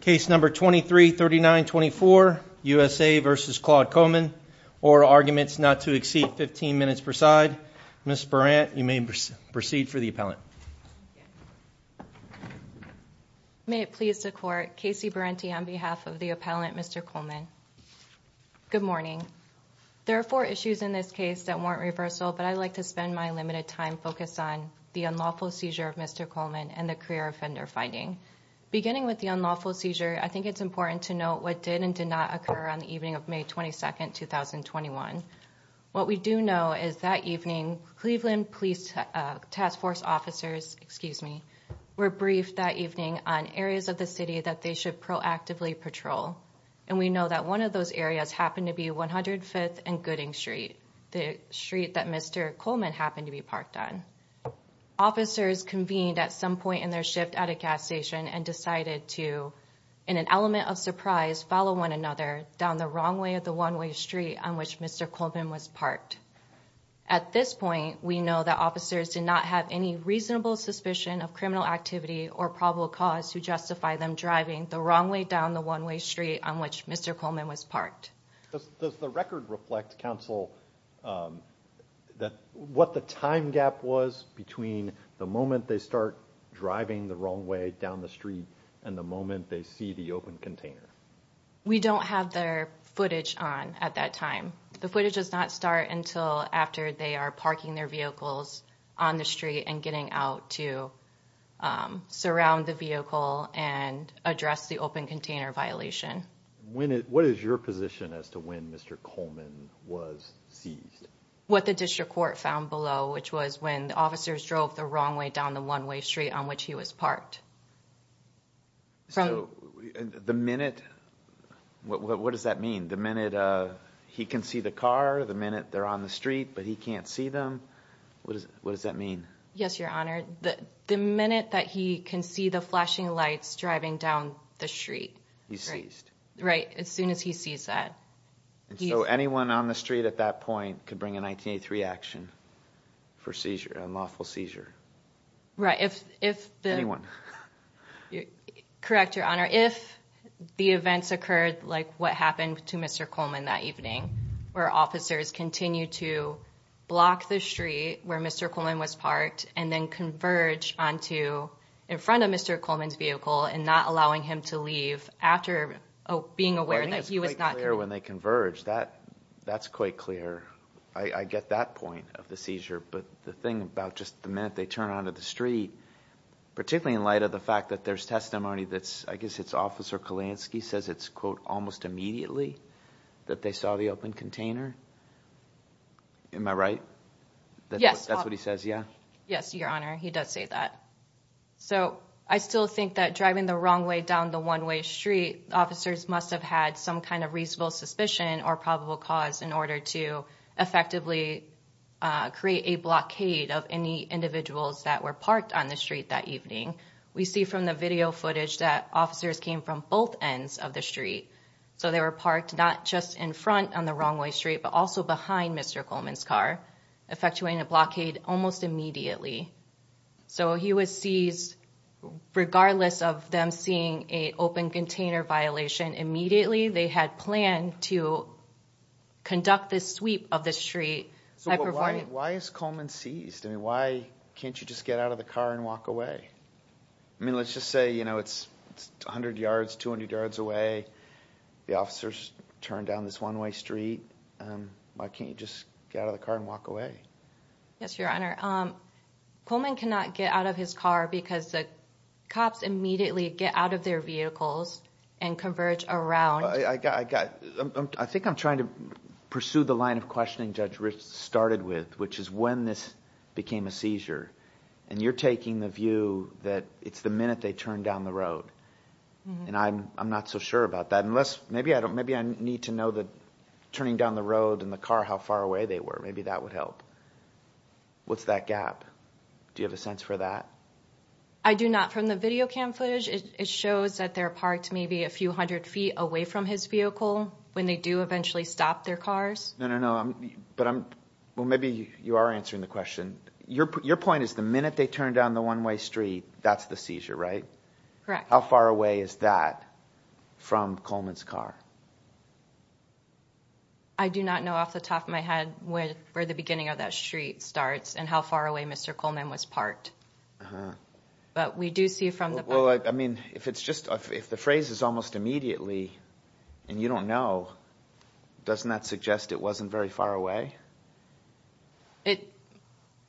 Case number 233924, USA v. Claude Coleman, or Arguments Not to Exceed 15 Minutes per Side. Ms. Berant, you may proceed for the appellant. May it please the court, Casey Berenty on behalf of the appellant, Mr. Coleman. Good morning. There are four issues in this case that warrant reversal, but I'd like to spend my limited time focused on the unlawful seizure of Mr. Coleman and the career offender finding. Beginning with the unlawful seizure, I think it's important to note what did and did not occur on the evening of May 22nd, 2021. What we do know is that evening, Cleveland Police Task Force officers, excuse me, were briefed that evening on areas of the city that they should proactively patrol. And we know that one of those areas happened to be 105th and Gooding Street, the street that Mr. Coleman happened to be parked on. Officers convened at some point in their shift at a gas station and decided to, in an element of surprise, follow one another down the wrong way of the one-way street on which Mr. Coleman was parked. At this point, we know that officers did not have any reasonable suspicion of criminal activity or probable cause to justify them driving the wrong way down the one-way street on which Mr. Coleman was parked. Does the record reflect, counsel, what the time gap was between the moment they start driving the wrong way down the street and the moment they see the open container? We don't have their footage on at that time. The footage does not start until after they are parking their vehicles on the street and getting out to surround the vehicle and address the open container. What does that mean? The minute he can see the car, the minute they're on the street, but he can't see them? What does that mean? Yes, Your Honor. The minute that he can see the flashing lights driving down the street. He's seized. Right, as soon as he sees that. So anyone on the street at that point could bring a 1983 action for seizure, unlawful seizure? Right, if the... Anyone. Correct, Your Honor. If the events occurred like what happened to Mr. Coleman that evening, where officers continued to block the street where Mr. Coleman was parked and then converge onto in front of Mr. Coleman's vehicle and not allowing him to leave after being aware that he was not... It's quite clear when they converge. That's quite clear. I get that point of the seizure, but the thing about just the minute they turn onto the street, particularly in light of the fact that there's testimony that's, I guess it's Officer Kalansky says it's, quote, almost immediately that they saw the open container. Am I right? Yes. That's what he says, yeah? Yes, Your Honor. He does say that. So I still think that driving the wrong way down the one-way street, officers must have had some kind of reasonable suspicion or probable cause in order to effectively create a blockade of any individuals that were parked on the street that evening. We see from the video footage that officers came from both ends of the street. So they were parked not just in front on the wrong way street, but also behind Mr. Coleman's car, effectuating a blockade almost immediately. So he was seized regardless of them seeing a open container violation. Immediately, they had planned to conduct this sweep of the street. So why is Coleman seized? I mean, why can't you just get out of the car and walk away? I mean, let's just say, you know, it's 100 yards, 200 yards away. The officers turned down this one-way street. Why can't you just get out of the car and walk away? Yes, Your Honor. Coleman cannot get out of his car because the cops immediately get out of their vehicles and converge around. I think I'm trying to pursue the line of questioning Judge Ritz started with, which is when this became a seizure. And you're taking the view that it's the minute they turned down the road. And I'm not so sure about that. Maybe I need to know that turning down the road and the car how far away they were. Maybe that would help. What's that gap? Do you have a sense for that? I do not. From the video cam footage, it shows that they're parked maybe a few hundred feet away from his vehicle when they do eventually stop their cars. No, no, no. But maybe you are answering the question. Your point is the minute they turned down the one-way street, that's the seizure, right? Correct. How far away is that from Coleman's car? I do not know off the top of my head where the beginning of that street starts and how far away Mr. Coleman was parked. But we do see from the... Well, I mean, if it's just... if the phrase is almost immediately and you don't know, doesn't that suggest it wasn't very far away?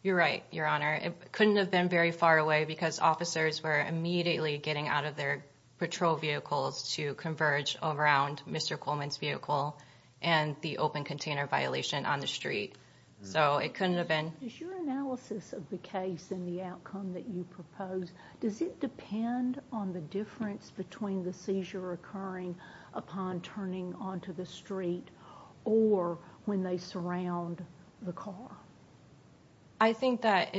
You're right, Your Honor. It couldn't have been very far away because officers were immediately getting out of their patrol vehicles to converge around Mr. Coleman's vehicle and the open container violation on the street. So it couldn't have been... Is your analysis of the case and the outcome that you propose, does it depend on the difference between the seizure occurring upon turning onto the street or when they surround the car? I think that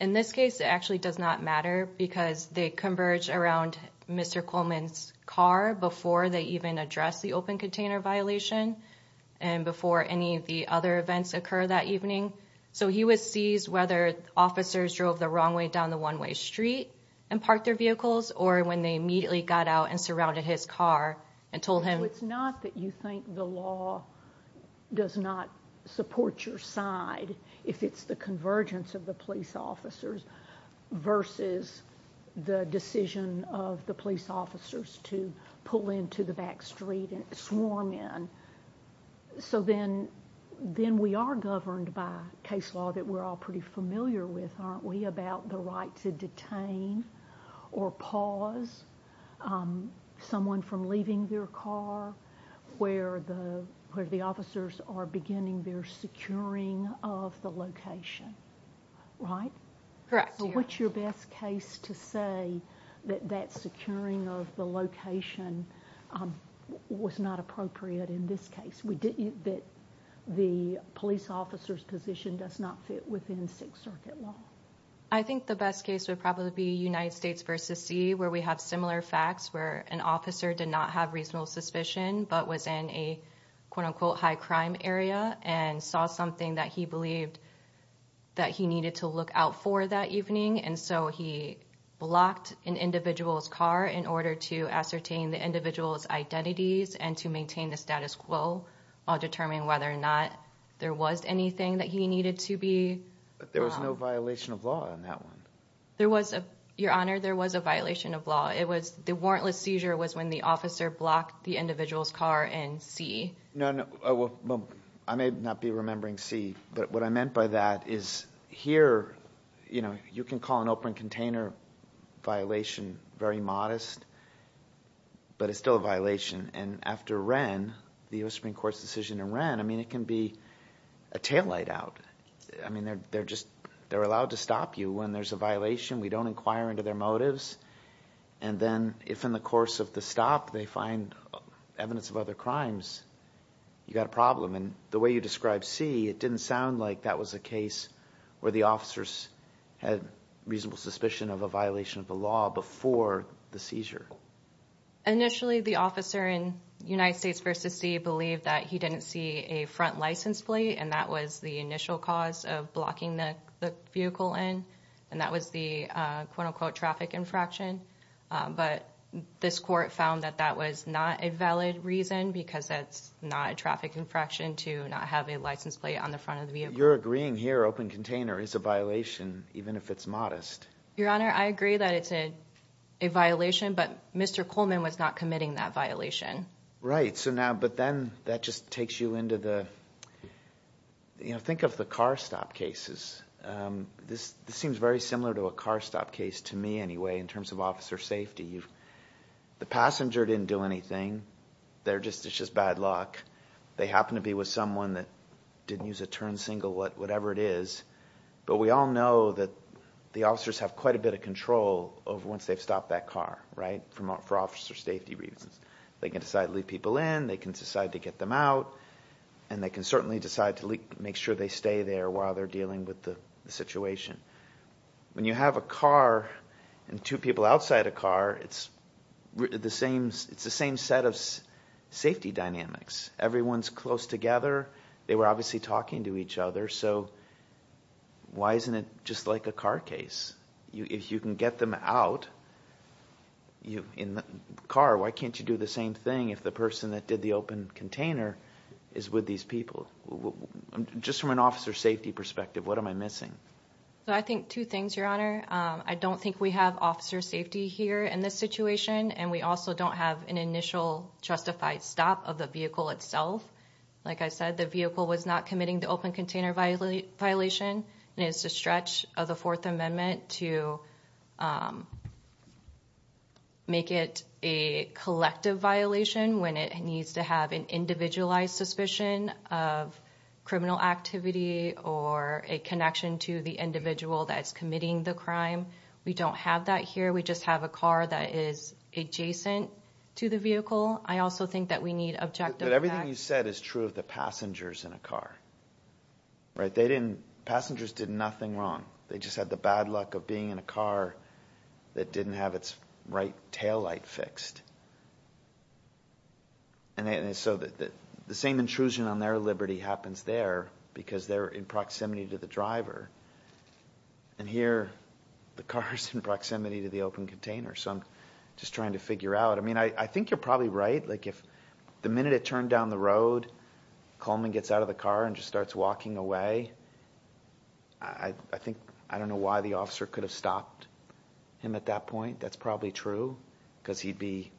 in this case, it actually does not matter because they converge around Mr. Coleman's car before they even address the open container violation and before any of the other events occur that evening. So he was seized whether officers drove the wrong way down the one-way street and parked their vehicles or when they immediately got out and surrounded his car and told him... So it's not that you think the law does not support your side if it's the convergence of the police officers versus the decision of the police officers to pull into the back street and swarm in. So then we are governed by case law that we're all pretty familiar with, aren't we, about the right to detain or pause someone from leaving their car where the officers are beginning their securing of the location, right? Correct. What's your best case to say that that securing of the location was not appropriate in this case, that the police officer's position does not fit within Sixth Circuit law? I think the best case would probably be United States versus C where we have similar facts where an officer did not have reasonable suspicion but was in a quote-unquote high crime area and saw something that he believed that he needed to look out for that evening and so he blocked an individual's car in order to ascertain the individual's identities and to maintain the status quo while determining whether or not there was anything that he needed to be... But there was no violation of law in that one. There was, Your Honor, there was a violation of law. It was the warrantless seizure was when the officer blocked the individual's car in C. No, I may not be remembering C but what I meant by that is here, you know, you can call an open the U.S. Supreme Court's decision in Wren. I mean, it can be a taillight out. I mean, they're just, they're allowed to stop you when there's a violation. We don't inquire into their motives and then if in the course of the stop they find evidence of other crimes, you got a problem and the way you described C, it didn't sound like that was a case where the officers had reasonable suspicion of a violation of the law before the seizure. Initially, the officer in United States C believed that he didn't see a front license plate and that was the initial cause of blocking the vehicle in and that was the quote-unquote traffic infraction but this court found that that was not a valid reason because that's not a traffic infraction to not have a license plate on the front of the vehicle. You're agreeing here open container is a violation even if it's modest? Your Honor, I agree that it's a violation but Mr. Coleman was not committing that violation. Right. So now, but then that just takes you into the, you know, think of the car stop cases. This seems very similar to a car stop case to me anyway in terms of officer safety. The passenger didn't do anything. They're just, it's just bad luck. They happen to be with someone that didn't use a turn signal, whatever it is, but we all know that the officers have quite a bit of control of once they've stopped that car, right, for officer safety reasons. They can decide to leave people in. They can decide to get them out and they can certainly decide to make sure they stay there while they're dealing with the situation. When you have a car and two people outside a car, it's the same, it's the same set of safety dynamics. Everyone's close together. They were obviously talking to each other, so why isn't it just like a car case? If you can get them out in the car, why can't you do the same thing if the person that did the open container is with these people? Just from an officer safety perspective, what am I missing? So I think two things, Your Honor. I don't think we have officer safety here in this situation and we also don't have an initial justified stop of the vehicle itself. Like I said, the vehicle was not committing the open container violation and it's a stretch of the Fourth Amendment to make it a collective violation when it needs to have an individualized suspicion of criminal activity or a connection to the individual that's committing the crime. We don't have that here. We just have a car that is adjacent to the vehicle. I also think that we need objective... But everything you said is true of the passengers in a car, right? They didn't... Passengers did nothing wrong. They just had the bad luck of being in a car that didn't have its right taillight fixed. And so the same intrusion on their liberty happens there because they're in proximity to the driver. And here, the car is in proximity to the open container. So I'm just trying to figure out. I mean, I think you're probably right. Like if the minute it turned down the road, Coleman gets out of the car and just starts walking away. I think, I don't know why the officer could have stopped him at that point. That's probably true because he'd be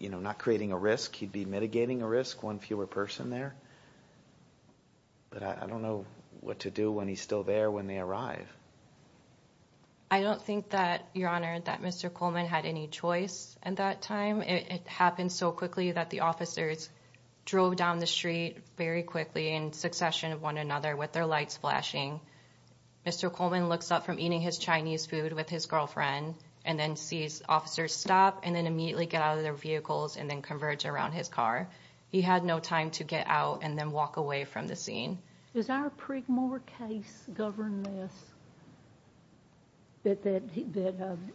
not creating a risk. He'd be mitigating a risk, one fewer person there. But I don't know what to do when he's still there when they arrive. I don't think that, Your Honor, that Mr. Coleman had any choice at that time. It happened so quickly that the officers drove down the street very quickly in succession of one another with their lights flashing. Mr. Coleman looks up from eating his Chinese food with his girlfriend and then sees officers stop and then immediately get out of their vehicles and then converge around his car. He had no time to get out and then walk away from the scene. Does our Prigmore case govern this, that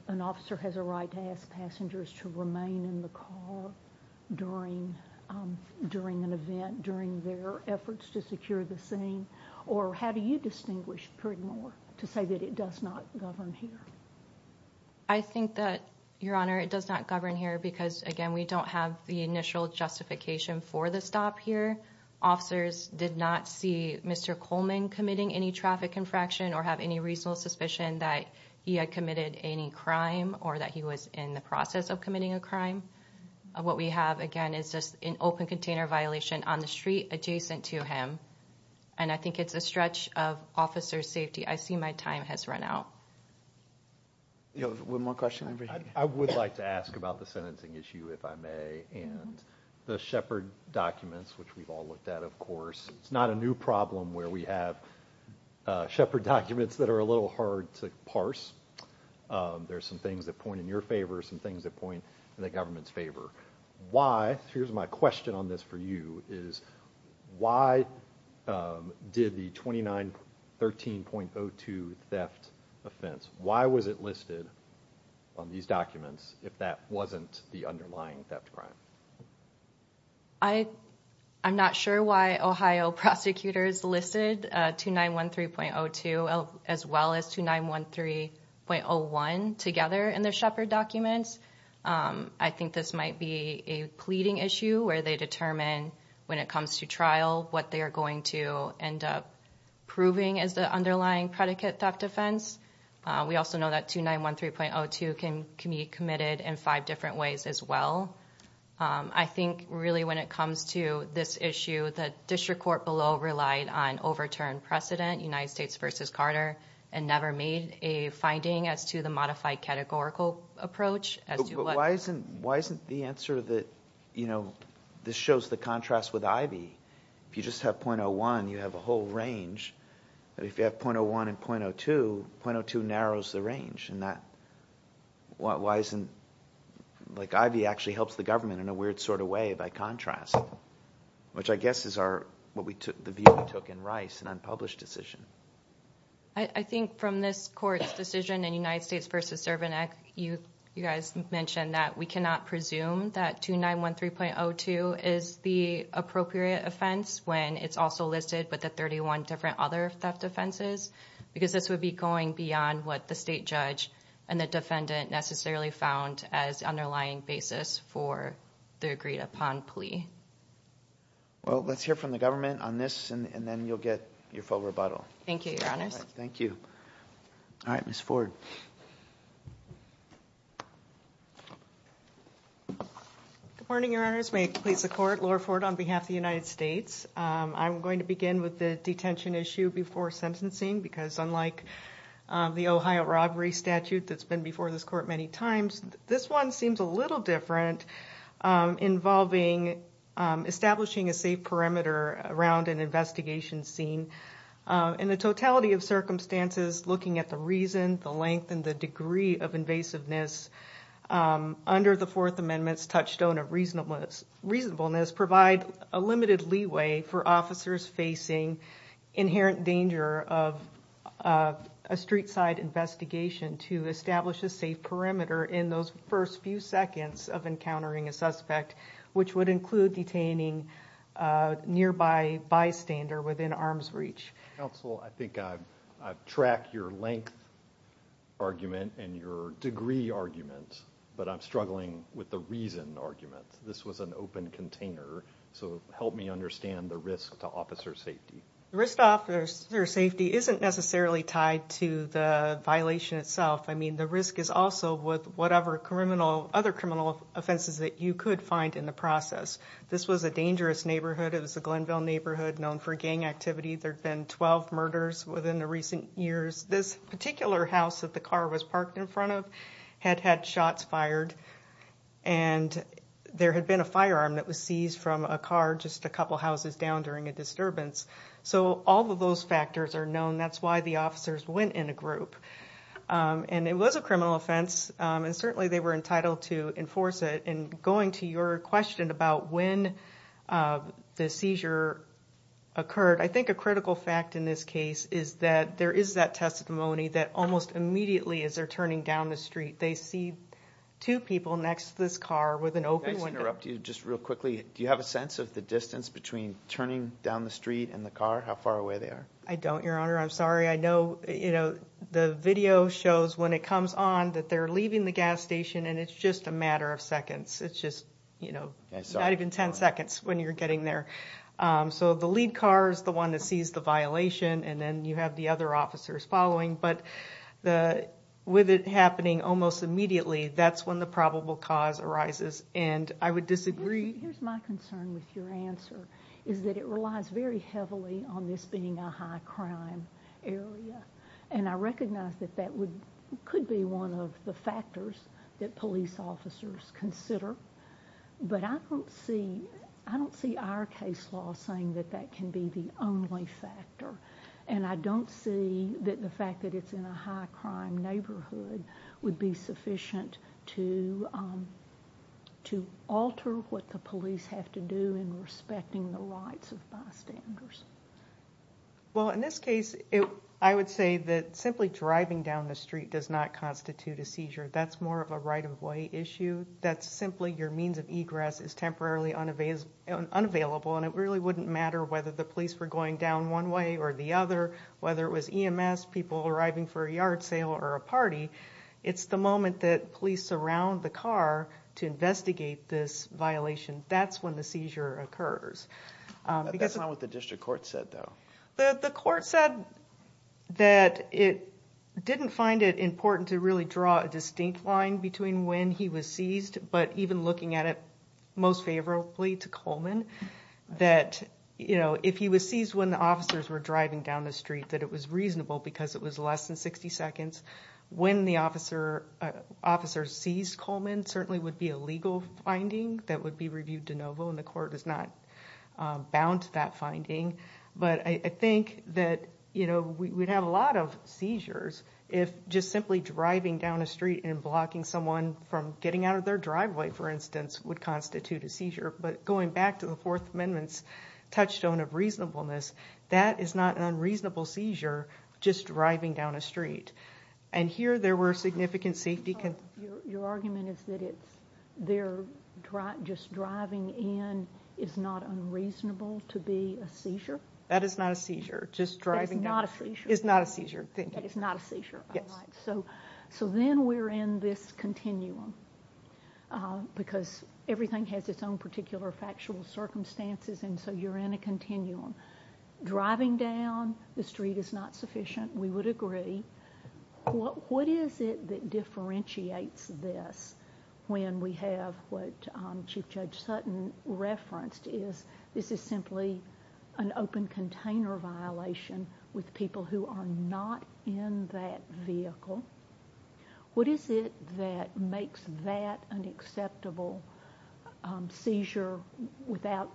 an officer has a right to ask passengers to remain in the car during an event, during their efforts to secure the scene? Or how do you distinguish Prigmore to say that it does not govern here? I think that, Your Honor, it does not govern here because, again, we don't have the initial justification for the stop here. Officers did not see Mr. Coleman committing any traffic infraction or have any reasonable suspicion that he had committed any crime or that he was in the process of committing a crime. What we have, again, is just an open container violation on the street adjacent to him. And I think it's a stretch of officers' safety. I see my time has run out. Do you have one more question? I would like to ask about the sentencing issue, if I may, and the Shepard documents, which we've all looked at, of course. It's not a new problem where we have Shepard documents that are a little hard to parse. There's some things that point in your favor, some things that point in the government's favor. Why, here's my question on this for you, is why did the 2913.02 theft offense, why was it listed on these documents if that wasn't the underlying theft crime? I'm not sure why Ohio prosecutors listed 2913.02 as well as 2913.01 together in their Shepard documents. I think this might be a pleading issue where they determine when it comes to trial what they are going to end up proving as the underlying predicate theft offense. We also know that 2913.02 can be committed in five different ways as well. I think, really, when it comes to this issue, the district court below relied on overturned precedent, United States v. Carter, and never made a finding as to the modified categorical approach. Why isn't the answer that this shows the contrast with Ivey? If you just have .01, you have a whole range. If you have .01 and .02, .02 narrows the range. Ivey actually helps the government in a weird sort of way by contrast, which I guess is the view we took in Rice, an unpublished decision. I think from this court's decision in United States v. Servanac, you guys mentioned that we cannot presume that 2913.02 is the appropriate offense when it's also listed with the 31 different other theft offenses because this would be going beyond what the state judge and the defendant necessarily found as the underlying basis for the agreed-upon plea. Well, let's hear from the government on this, and then you'll get your full rebuttal. Thank you, your honors. Thank you. All right, Ms. Ford. Good morning, your honors. May it please the court, Laura Ford on behalf of the United States. I'm going to begin with the detention issue before sentencing because unlike the Ohio robbery statute that's been before this court many times, this one seems a little different involving establishing a safe perimeter around an investigation scene. In the totality of circumstances, looking at the reason, the length, and the degree of invasiveness under the Fourth Amendment's touchstone of reasonableness provide a limited leeway for officers facing inherent danger of a street-side investigation to establish a safe perimeter in those first few seconds of encountering a suspect, which would include detaining nearby bystander within arm's reach. Counsel, I think I've tracked your length argument and your degree argument, but I'm struggling with the reason argument. This was an open container, so help me understand the risk to officer safety. The risk to officer safety isn't necessarily tied to the violation itself. I mean, the risk is also with whatever other criminal offenses that you could find in the process. This was a dangerous neighborhood. It was a Glenville neighborhood known for gang activity. There had been 12 murders within the recent years. This particular house that the car was parked in front of had had shots fired, and there had been a firearm that was seized from a car just a couple houses down during a disturbance. So all of those factors are known. That's why officers went in a group. And it was a criminal offense, and certainly they were entitled to enforce it. And going to your question about when the seizure occurred, I think a critical fact in this case is that there is that testimony that almost immediately as they're turning down the street, they see two people next to this car with an open window. Can I just interrupt you just real quickly? Do you have a sense of the distance between turning down the street and the car, how far away they are? I don't, your honor. I'm sorry. I know, you know, the video shows when it comes on that they're leaving the gas station, and it's just a matter of seconds. It's just, you know, not even 10 seconds when you're getting there. So the lead car is the one that sees the violation, and then you have the other officers following. But with it happening almost immediately, that's when the probable cause arises, and I would disagree. Here's my concern with your answer, is that it relies very heavily on this being a high crime area, and I recognize that that would, could be one of the factors that police officers consider. But I don't see, I don't see our case law saying that that can be the only factor, and I don't see that the fact that it's in a high crime neighborhood would be sufficient to alter what the police have to do in respecting the rights of bystanders. Well, in this case, I would say that simply driving down the street does not constitute a seizure. That's more of a right-of-way issue. That's simply your means of egress is temporarily unavailable, and it really wouldn't matter whether the police were going down one way or the other, whether it was EMS, people arriving for a yard sale, or a party. It's the moment that police surround the car to investigate this violation. That's when the seizure occurs. That's not what the district court said, though. The court said that it didn't find it important to really draw a distinct line between when he was seized, but even looking at it most favorably to Coleman, that, you know, if he was seized when the officers were driving down the street, that it was reasonable because it was less than 60 seconds. When the officer seized Coleman certainly would be a legal finding that would be reviewed de novo, and the court is not bound to that finding. But I think that, you know, we'd have a lot of seizures if just simply driving down the street and blocking someone from getting out of their driveway, for instance, would constitute a seizure. But going back to the Fourth Amendment's touchstone of reasonableness, that is not an unreasonable seizure just driving down a street. And here there were significant safety concerns. Your argument is that just driving in is not unreasonable to be a seizure? That is not a seizure. Just driving down is not a seizure. That is not a seizure, all right. So then we're in this continuum, because everything has its own particular factual circumstances, and so you're in a continuum. Driving down the street is not sufficient, we would agree. What is it that differentiates this when we have what Chief Judge Sutton referenced is this is simply an open container violation with people who are not in that vehicle. What is it that makes that an acceptable seizure without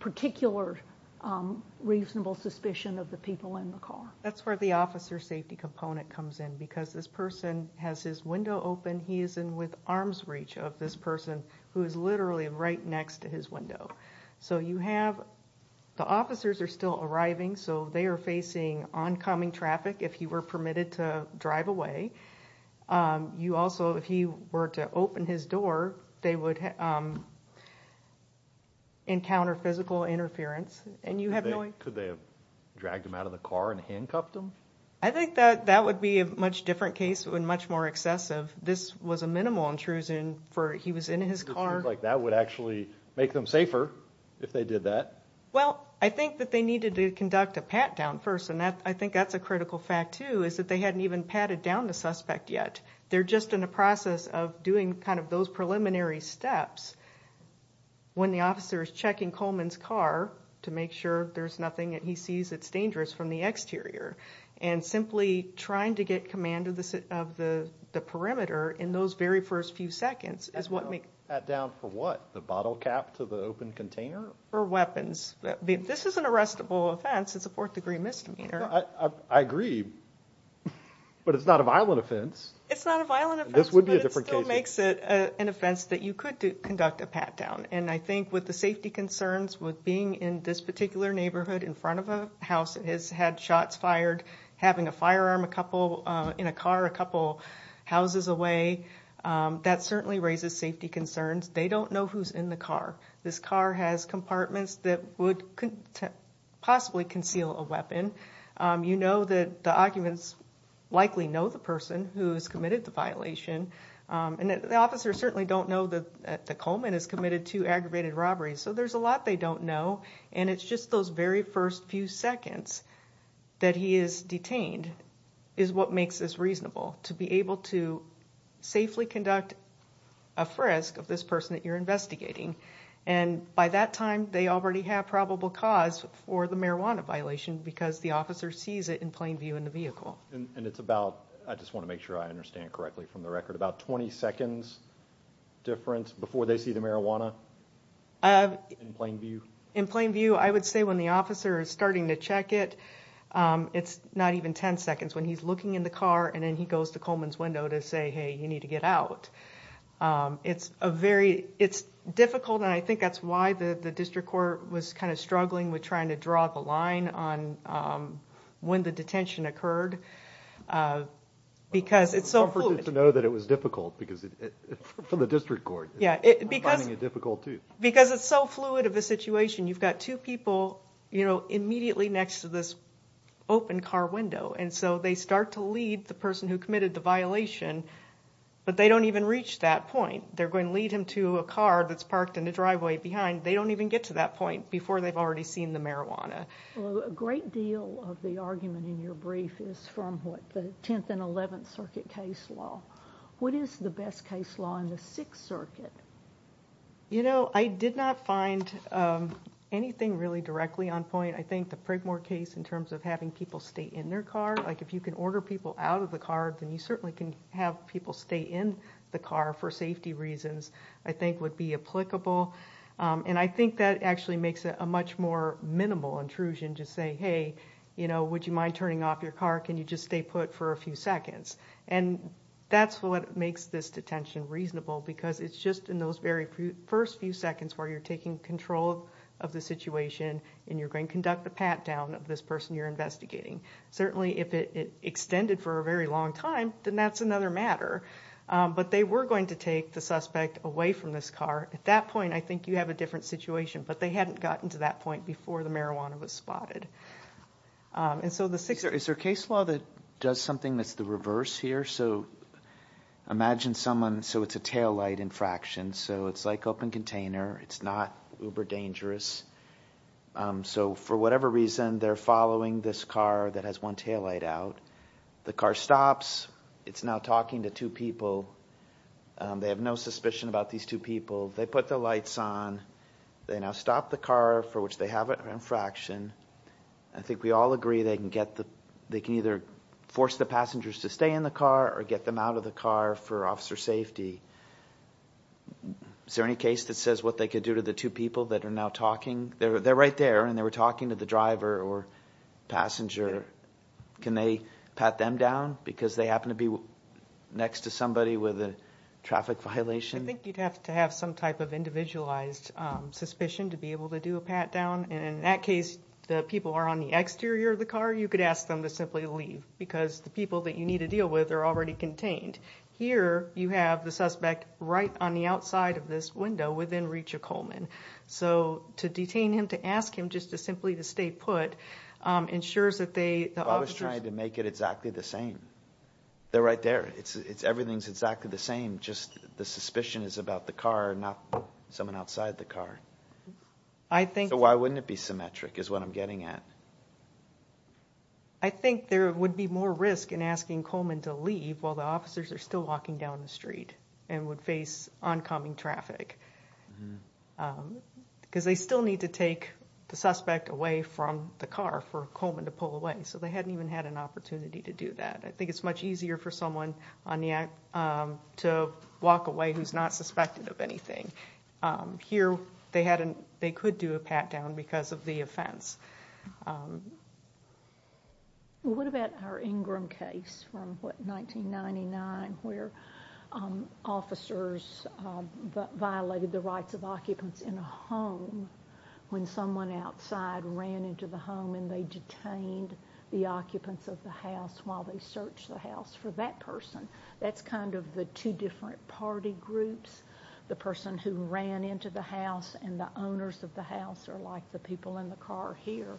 particular reasonable suspicion of the people in the car? That's where the officer safety component comes in, because this person has his window open, he is in with arm's reach of this person who is literally right next to his window. So you have the officers are still arriving, so they are facing oncoming traffic if he were permitted to drive away. You also, if he were to open his door, they would encounter physical interference. And you have no... Could they have dragged him out of the car and handcuffed him? I think that that would be a much different case and much more excessive. This was a minimal intrusion for he was in his car. That would actually make them safer if they did that. Well, I think that they needed to conduct a pat-down first, and I think that's a critical fact too, is that they hadn't even patted down the suspect yet. They're just in a process of doing kind of those preliminary steps when the officer is checking Coleman's car to make sure there's nothing that he sees that's dangerous from the exterior. And simply trying to get command of the perimeter in those very first few seconds is what makes... A pat-down for what? The bottle cap to the open container? Or weapons. This is an arrestable offense. It's a fourth-degree misdemeanor. I agree, but it's not a violent offense. It's not a violent offense, but it still makes it an offense that you could conduct a pat-down. And I think with the safety concerns with being in this particular neighborhood in front of a house that has had shots fired, having a firearm in a car a couple houses away, that certainly raises safety concerns. They don't know who's in the car. This car has compartments that would possibly conceal a weapon. You know that the occupants likely know the person who's committed the violation, and the officers certainly don't know that Coleman is committed to aggravated robbery. So there's a lot they don't know, and it's just those very first few seconds that he is detained is what makes this reasonable. To be able to safely conduct a frisk of this person that you're investigating, and by that time they already have probable cause for the marijuana violation because the officer sees it in plain view in the vehicle. And it's about, I just want to make sure I understand correctly from the record, about 20 seconds difference before they see the marijuana in plain view? In plain view, I would say when the officer is starting to check it, it's not even 10 seconds when he's looking in the car and then he goes to Coleman's window to say, hey, you need to get out. It's a very, it's difficult, and I think that's why the district court was kind of struggling with trying to draw the line on when the detention occurred, because it's so fluid. It's comforting to know that it was difficult for the district court. Yeah, because it's so fluid of a situation. You've got two people, you know, immediately next to this open car window, and so they start to lead the person who committed the violation, but they don't even reach that point. They're going to lead him to a car that's parked in the driveway behind. They don't even get to that point before they've already seen the marijuana. A great deal of the argument in your brief is from what the 10th and 11th Circuit case law. What is the best case law in the Sixth Circuit? You know, I did not find anything really directly on point. I think the Prigmore case in terms of having people stay in their car, like if you can order people out of the car, then you certainly can have people stay in the car for safety reasons, I think would be applicable. And I think that actually makes it a much more minimal intrusion to say, hey, you know, would you mind turning off your car? Can you just stay put for a few seconds? And that's what makes this detention reasonable, because it's just in those very first few seconds where you're taking control of the situation, and you're going to conduct a pat-down of this person you're investigating. Certainly, if it extended for a very long time, then that's another matter. But they were going to take the suspect away from this car. At that point, I think you have a different situation, but they hadn't gotten to that point before the marijuana was spotted. Is there a case law that does something that's the reverse here? So imagine someone, so it's a tail light infraction. So it's like open container. It's not uber dangerous. So for whatever reason, they're following this car that has one tail light out. The car stops. It's now talking to two people. They have no suspicion about these two people. They put the lights on. They now stop the car, for which they have an infraction. I think we all agree they can either force the passengers to stay in the car or get them out of the car for officer safety. Is there any case that says what they could do to the two people that are now talking? They're right there, and they were talking to the driver or passenger. Can they pat them down because they happen to be next to somebody with a traffic violation? I think you'd have to have some type of individualized suspicion to be able to do a pat-down. In that case, the people are on the exterior of the car. You could ask them to simply leave because the people that you need to deal with are already contained. Here, you have the suspect right on the outside of this window within reach of Coleman. So to detain him, to ask him just to simply to stay put, ensures that they... I was trying to make it exactly the same. They're right there. Everything's exactly the same. Just the suspicion is about the car, not someone outside the car. So why wouldn't it be symmetric is what I'm getting at. I think there would be more risk in asking Coleman to leave while the officers are still walking down the street and would face oncoming traffic because they still need to take the suspect away from the car for Coleman to pull away. So they hadn't even had an opportunity to do that. I think it's much easier for someone to walk away who's not suspected of anything. Here, they could do a pat-down because of the offense. What about our Ingram case from 1999 where officers violated the rights of occupants in a home when someone outside ran into the home and they detained the occupants of the house while they searched the house for that person? That's kind of the two different party groups. The person who ran into the house and the owners of the house are like the people in the car here.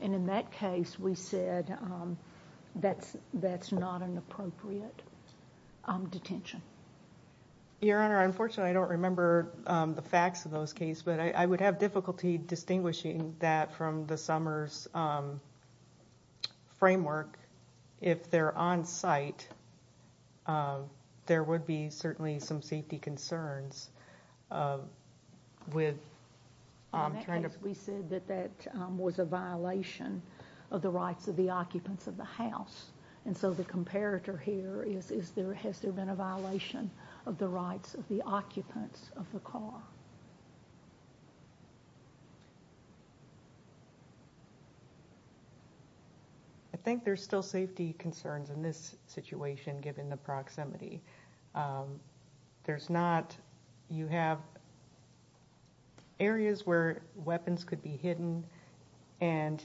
In that case, we said that's not an appropriate detention. Your Honor, unfortunately, I don't remember the facts of those cases, but I would have difficulty distinguishing that from the Summers framework. If they're on site, there would be certainly some safety concerns with trying to ‑‑ We said that that was a violation of the rights of the occupants of the house. And so the comparator here is has there been a violation of the rights of the occupants of the car? I think there's still safety concerns in this situation given the proximity. You have areas where weapons could be hidden and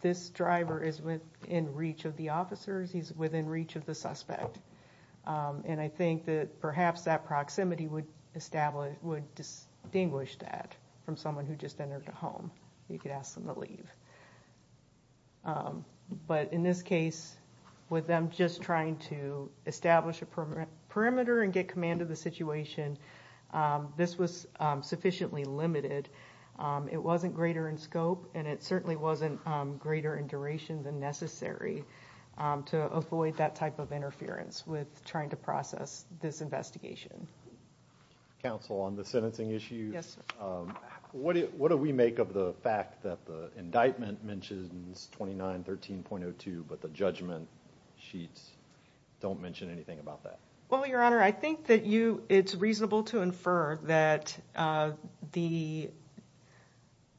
this driver is within reach of the officers. He's not going to be able to distinguish that from someone who just entered the home. You could ask them to leave. But in this case, with them just trying to establish a perimeter and get command of the situation, this was sufficiently limited. It wasn't greater in scope and it certainly wasn't greater in duration than necessary to avoid that type of interference with trying to process this investigation. Counsel, on the sentencing issue, what do we make of the fact that the indictment mentions 2913.02, but the judgment sheets don't mention anything about that? Well, Your Honor, I think that it's reasonable to infer that the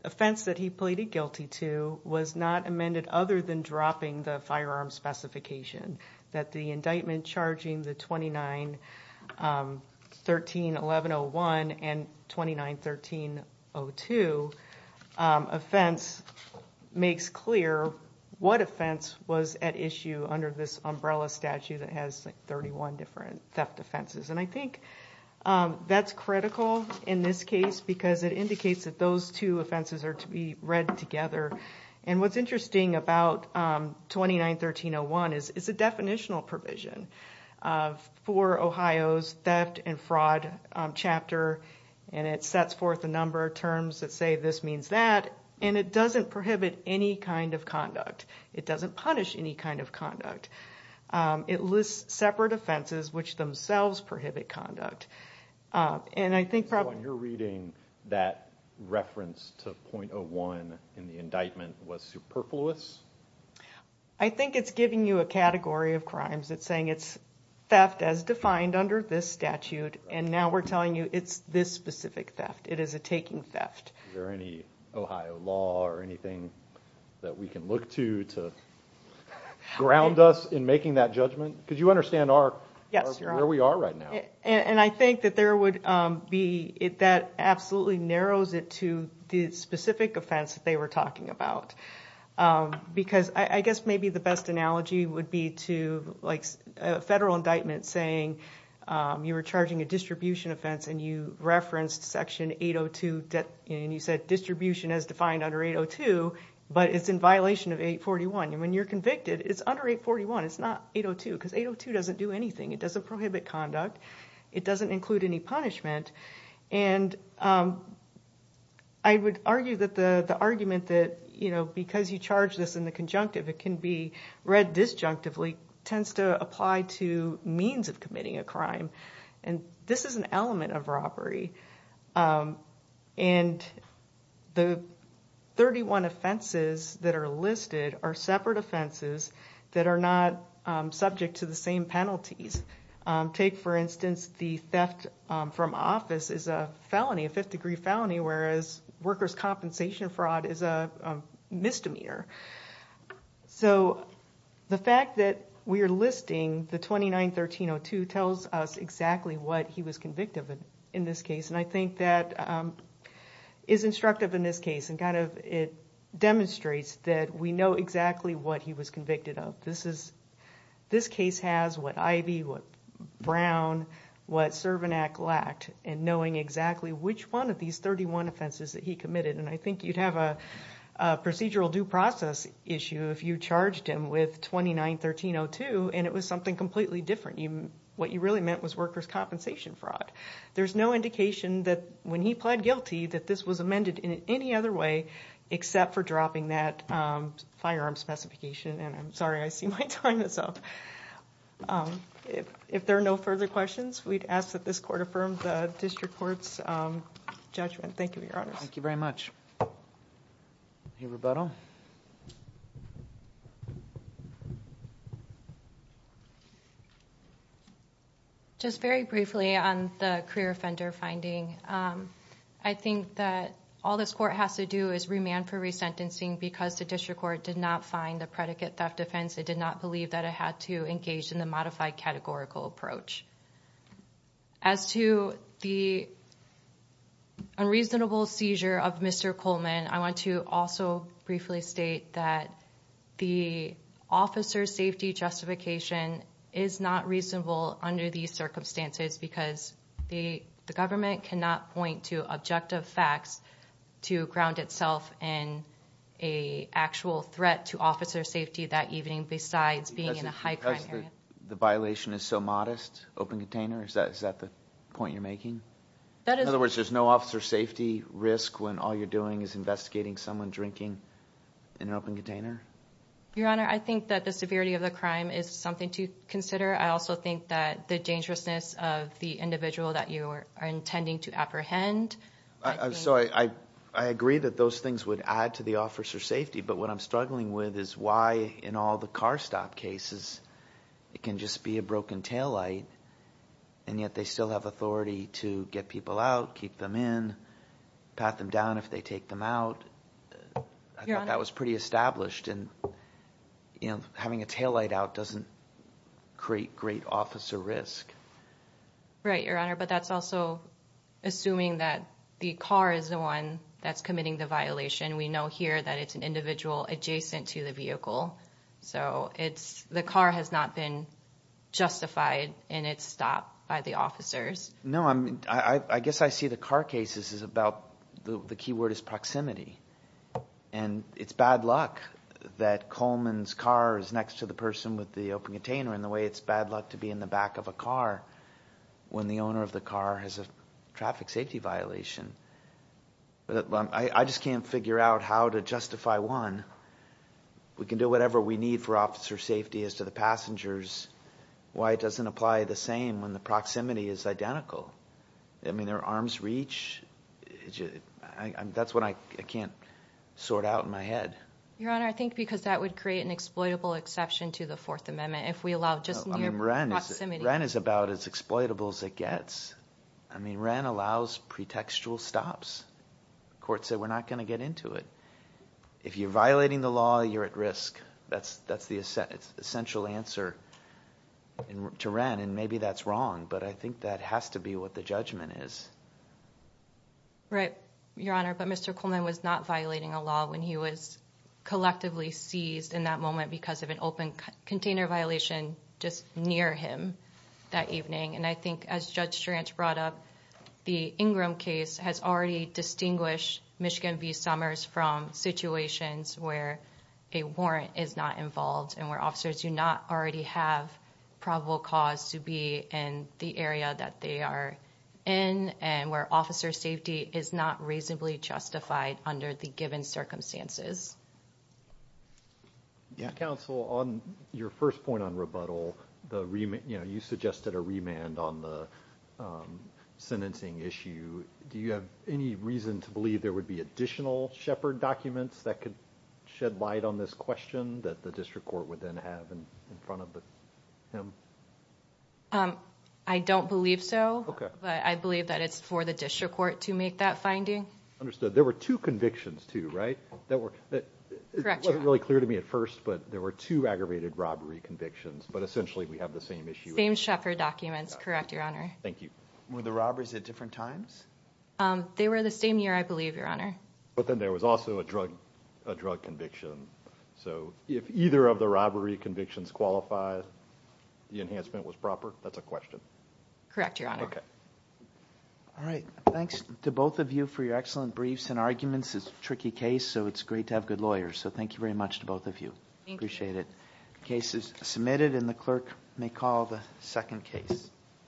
offense that he pleaded guilty to was not amended other than dropping the firearm specification. That the indictment charging the 29 13.11.01 and 29.13.02 offense makes clear what offense was at issue under this umbrella statute that has 31 different theft offenses. I think that's critical in this case because it indicates that those two offenses are to be read together. What's interesting about 29.13.01 is it's a fraud chapter and it sets forth a number of terms that say this means that, and it doesn't prohibit any kind of conduct. It doesn't punish any kind of conduct. It lists separate offenses which themselves prohibit conduct. And I think... So in your reading, that reference to .01 in the indictment was superfluous? I think it's giving you a category of crimes. It's saying it's theft as defined under this statute, and now we're telling you it's this specific theft. It is a taking theft. Is there any Ohio law or anything that we can look to to ground us in making that judgment? Because you understand where we are right now. And I think that there would be... That absolutely narrows it to the specific offense that they were about. Because I guess maybe the best analogy would be to a federal indictment saying you were charging a distribution offense and you referenced section 802, and you said distribution as defined under 802, but it's in violation of 841. And when you're convicted, it's under 841. It's not 802 because 802 doesn't do anything. It doesn't prohibit conduct. It doesn't include any punishment. And I would argue that the argument that because you charge this in the conjunctive, it can be read disjunctively, tends to apply to means of committing a crime. And this is an element of robbery. And the 31 offenses that are listed are separate offenses that are not subject to the same penalties. Take for instance, the theft from office is a felony, a fifth degree felony, whereas workers' compensation fraud is a misdemeanor. So the fact that we are listing the 29-1302 tells us exactly what he was convicted in this case. And I think that is instructive in this case. And it demonstrates that we know exactly what he was convicted of. This case has what Ivey, what Brown, what Cervinac lacked in knowing exactly which one of these 31 offenses that he committed. And I think you'd have a procedural due process issue if you charged him with 29-1302 and it was something completely different. What you really meant was workers' compensation fraud. There's no indication that when he pled guilty that this was amended in any other way except for dropping that firearm specification. And I'm sorry, I see my time is up. If there are no further questions, we'd ask that this court affirm the district court's judgment. Thank you, Your Honors. Thank you very much. Any rebuttal? Just very briefly on the career offender finding. I think that all this court has to do is remand for resentencing because the district court did not find the predicate theft offense. It did not believe that it had to engage in the modified categorical approach. As to the unreasonable seizure of Mr. Coleman, I want to also briefly state that the officer's safety justification is not reasonable under these circumstances because the government cannot point to objective facts to ground itself in an actual threat to officer safety that evening besides being in a high crime area. Because the violation is so modest, open container, is that the point you're making? In other words, there's no officer safety risk when all you're doing is investigating someone drinking in an open container? Your Honor, I think that the severity of the crime is something to consider. I also think that the dangerousness of the individual that you are intending to apprehend- I'm sorry. I agree that those things would add to the officer's safety, but what I'm struggling with is why in all the car stop cases, it can just be a broken taillight and yet they still have authority to get people out, keep them in, pat them down if they take them out. I thought that was pretty established. Having a taillight out doesn't create great officer risk. Right, Your Honor, but that's also assuming that the car is the one that's committing the violation. We know here that it's an individual adjacent to the vehicle, so the car has not been justified in its stop by the officers. No, I guess I see the car cases about- the key word is proximity, and it's bad luck that Coleman's car is next to the person with the open container in the way it's bad luck to be in the back of a car when the owner of the car has a traffic safety violation. I just can't figure out how to justify one. We can do whatever we need for officer safety as to the passengers. Why it doesn't apply the same when the proximity is identical. I mean, their arms reach. That's what I can't sort out in my head. Your Honor, I think because that would create an exploitable exception to the Fourth Amendment if we allow just near proximity. I mean, Wren is about as exploitable as it gets. I mean, Wren allows pretextual stops. Courts say we're not going to get into it. If you're violating the law, you're at risk. That's the essential answer to Wren, and maybe that's wrong, but I think that has to be what the judgment is. Right, Your Honor, but Mr. Coleman was not violating a law when he was collectively seized in that moment because of an open container violation just near him that evening, and I think as Judge Strange brought up, the Ingram case has already distinguished Michigan v. Summers from situations where a warrant is not involved and where officers do not already have probable cause to be in the area that they are in and where officer safety is not reasonably justified under the given circumstances. Counsel, on your first point on rebuttal, you suggested a remand on the sentencing issue. Do you have any reason to believe there would be additional Shepard documents that could shed light on this question that the district court would then have in front of him? I don't believe so, but I believe that it's for the district court to make that finding. Understood. There were two convictions, too, right? That wasn't really clear to me at first, but there were two aggravated robbery convictions, but essentially we have the same Shepard documents. Correct, Your Honor. Thank you. Were the robberies at different times? They were the same year, I believe, Your Honor. But then there was also a drug conviction, so if either of the robbery convictions qualify, the enhancement was proper? That's a question. Correct, Your Honor. Okay. All right. Thanks to both of you for your excellent briefs and arguments. It's a tricky case, so it's great to have good lawyers, so thank you very much to both of you. Appreciate it. The case is submitted, and the clerk may call the second case.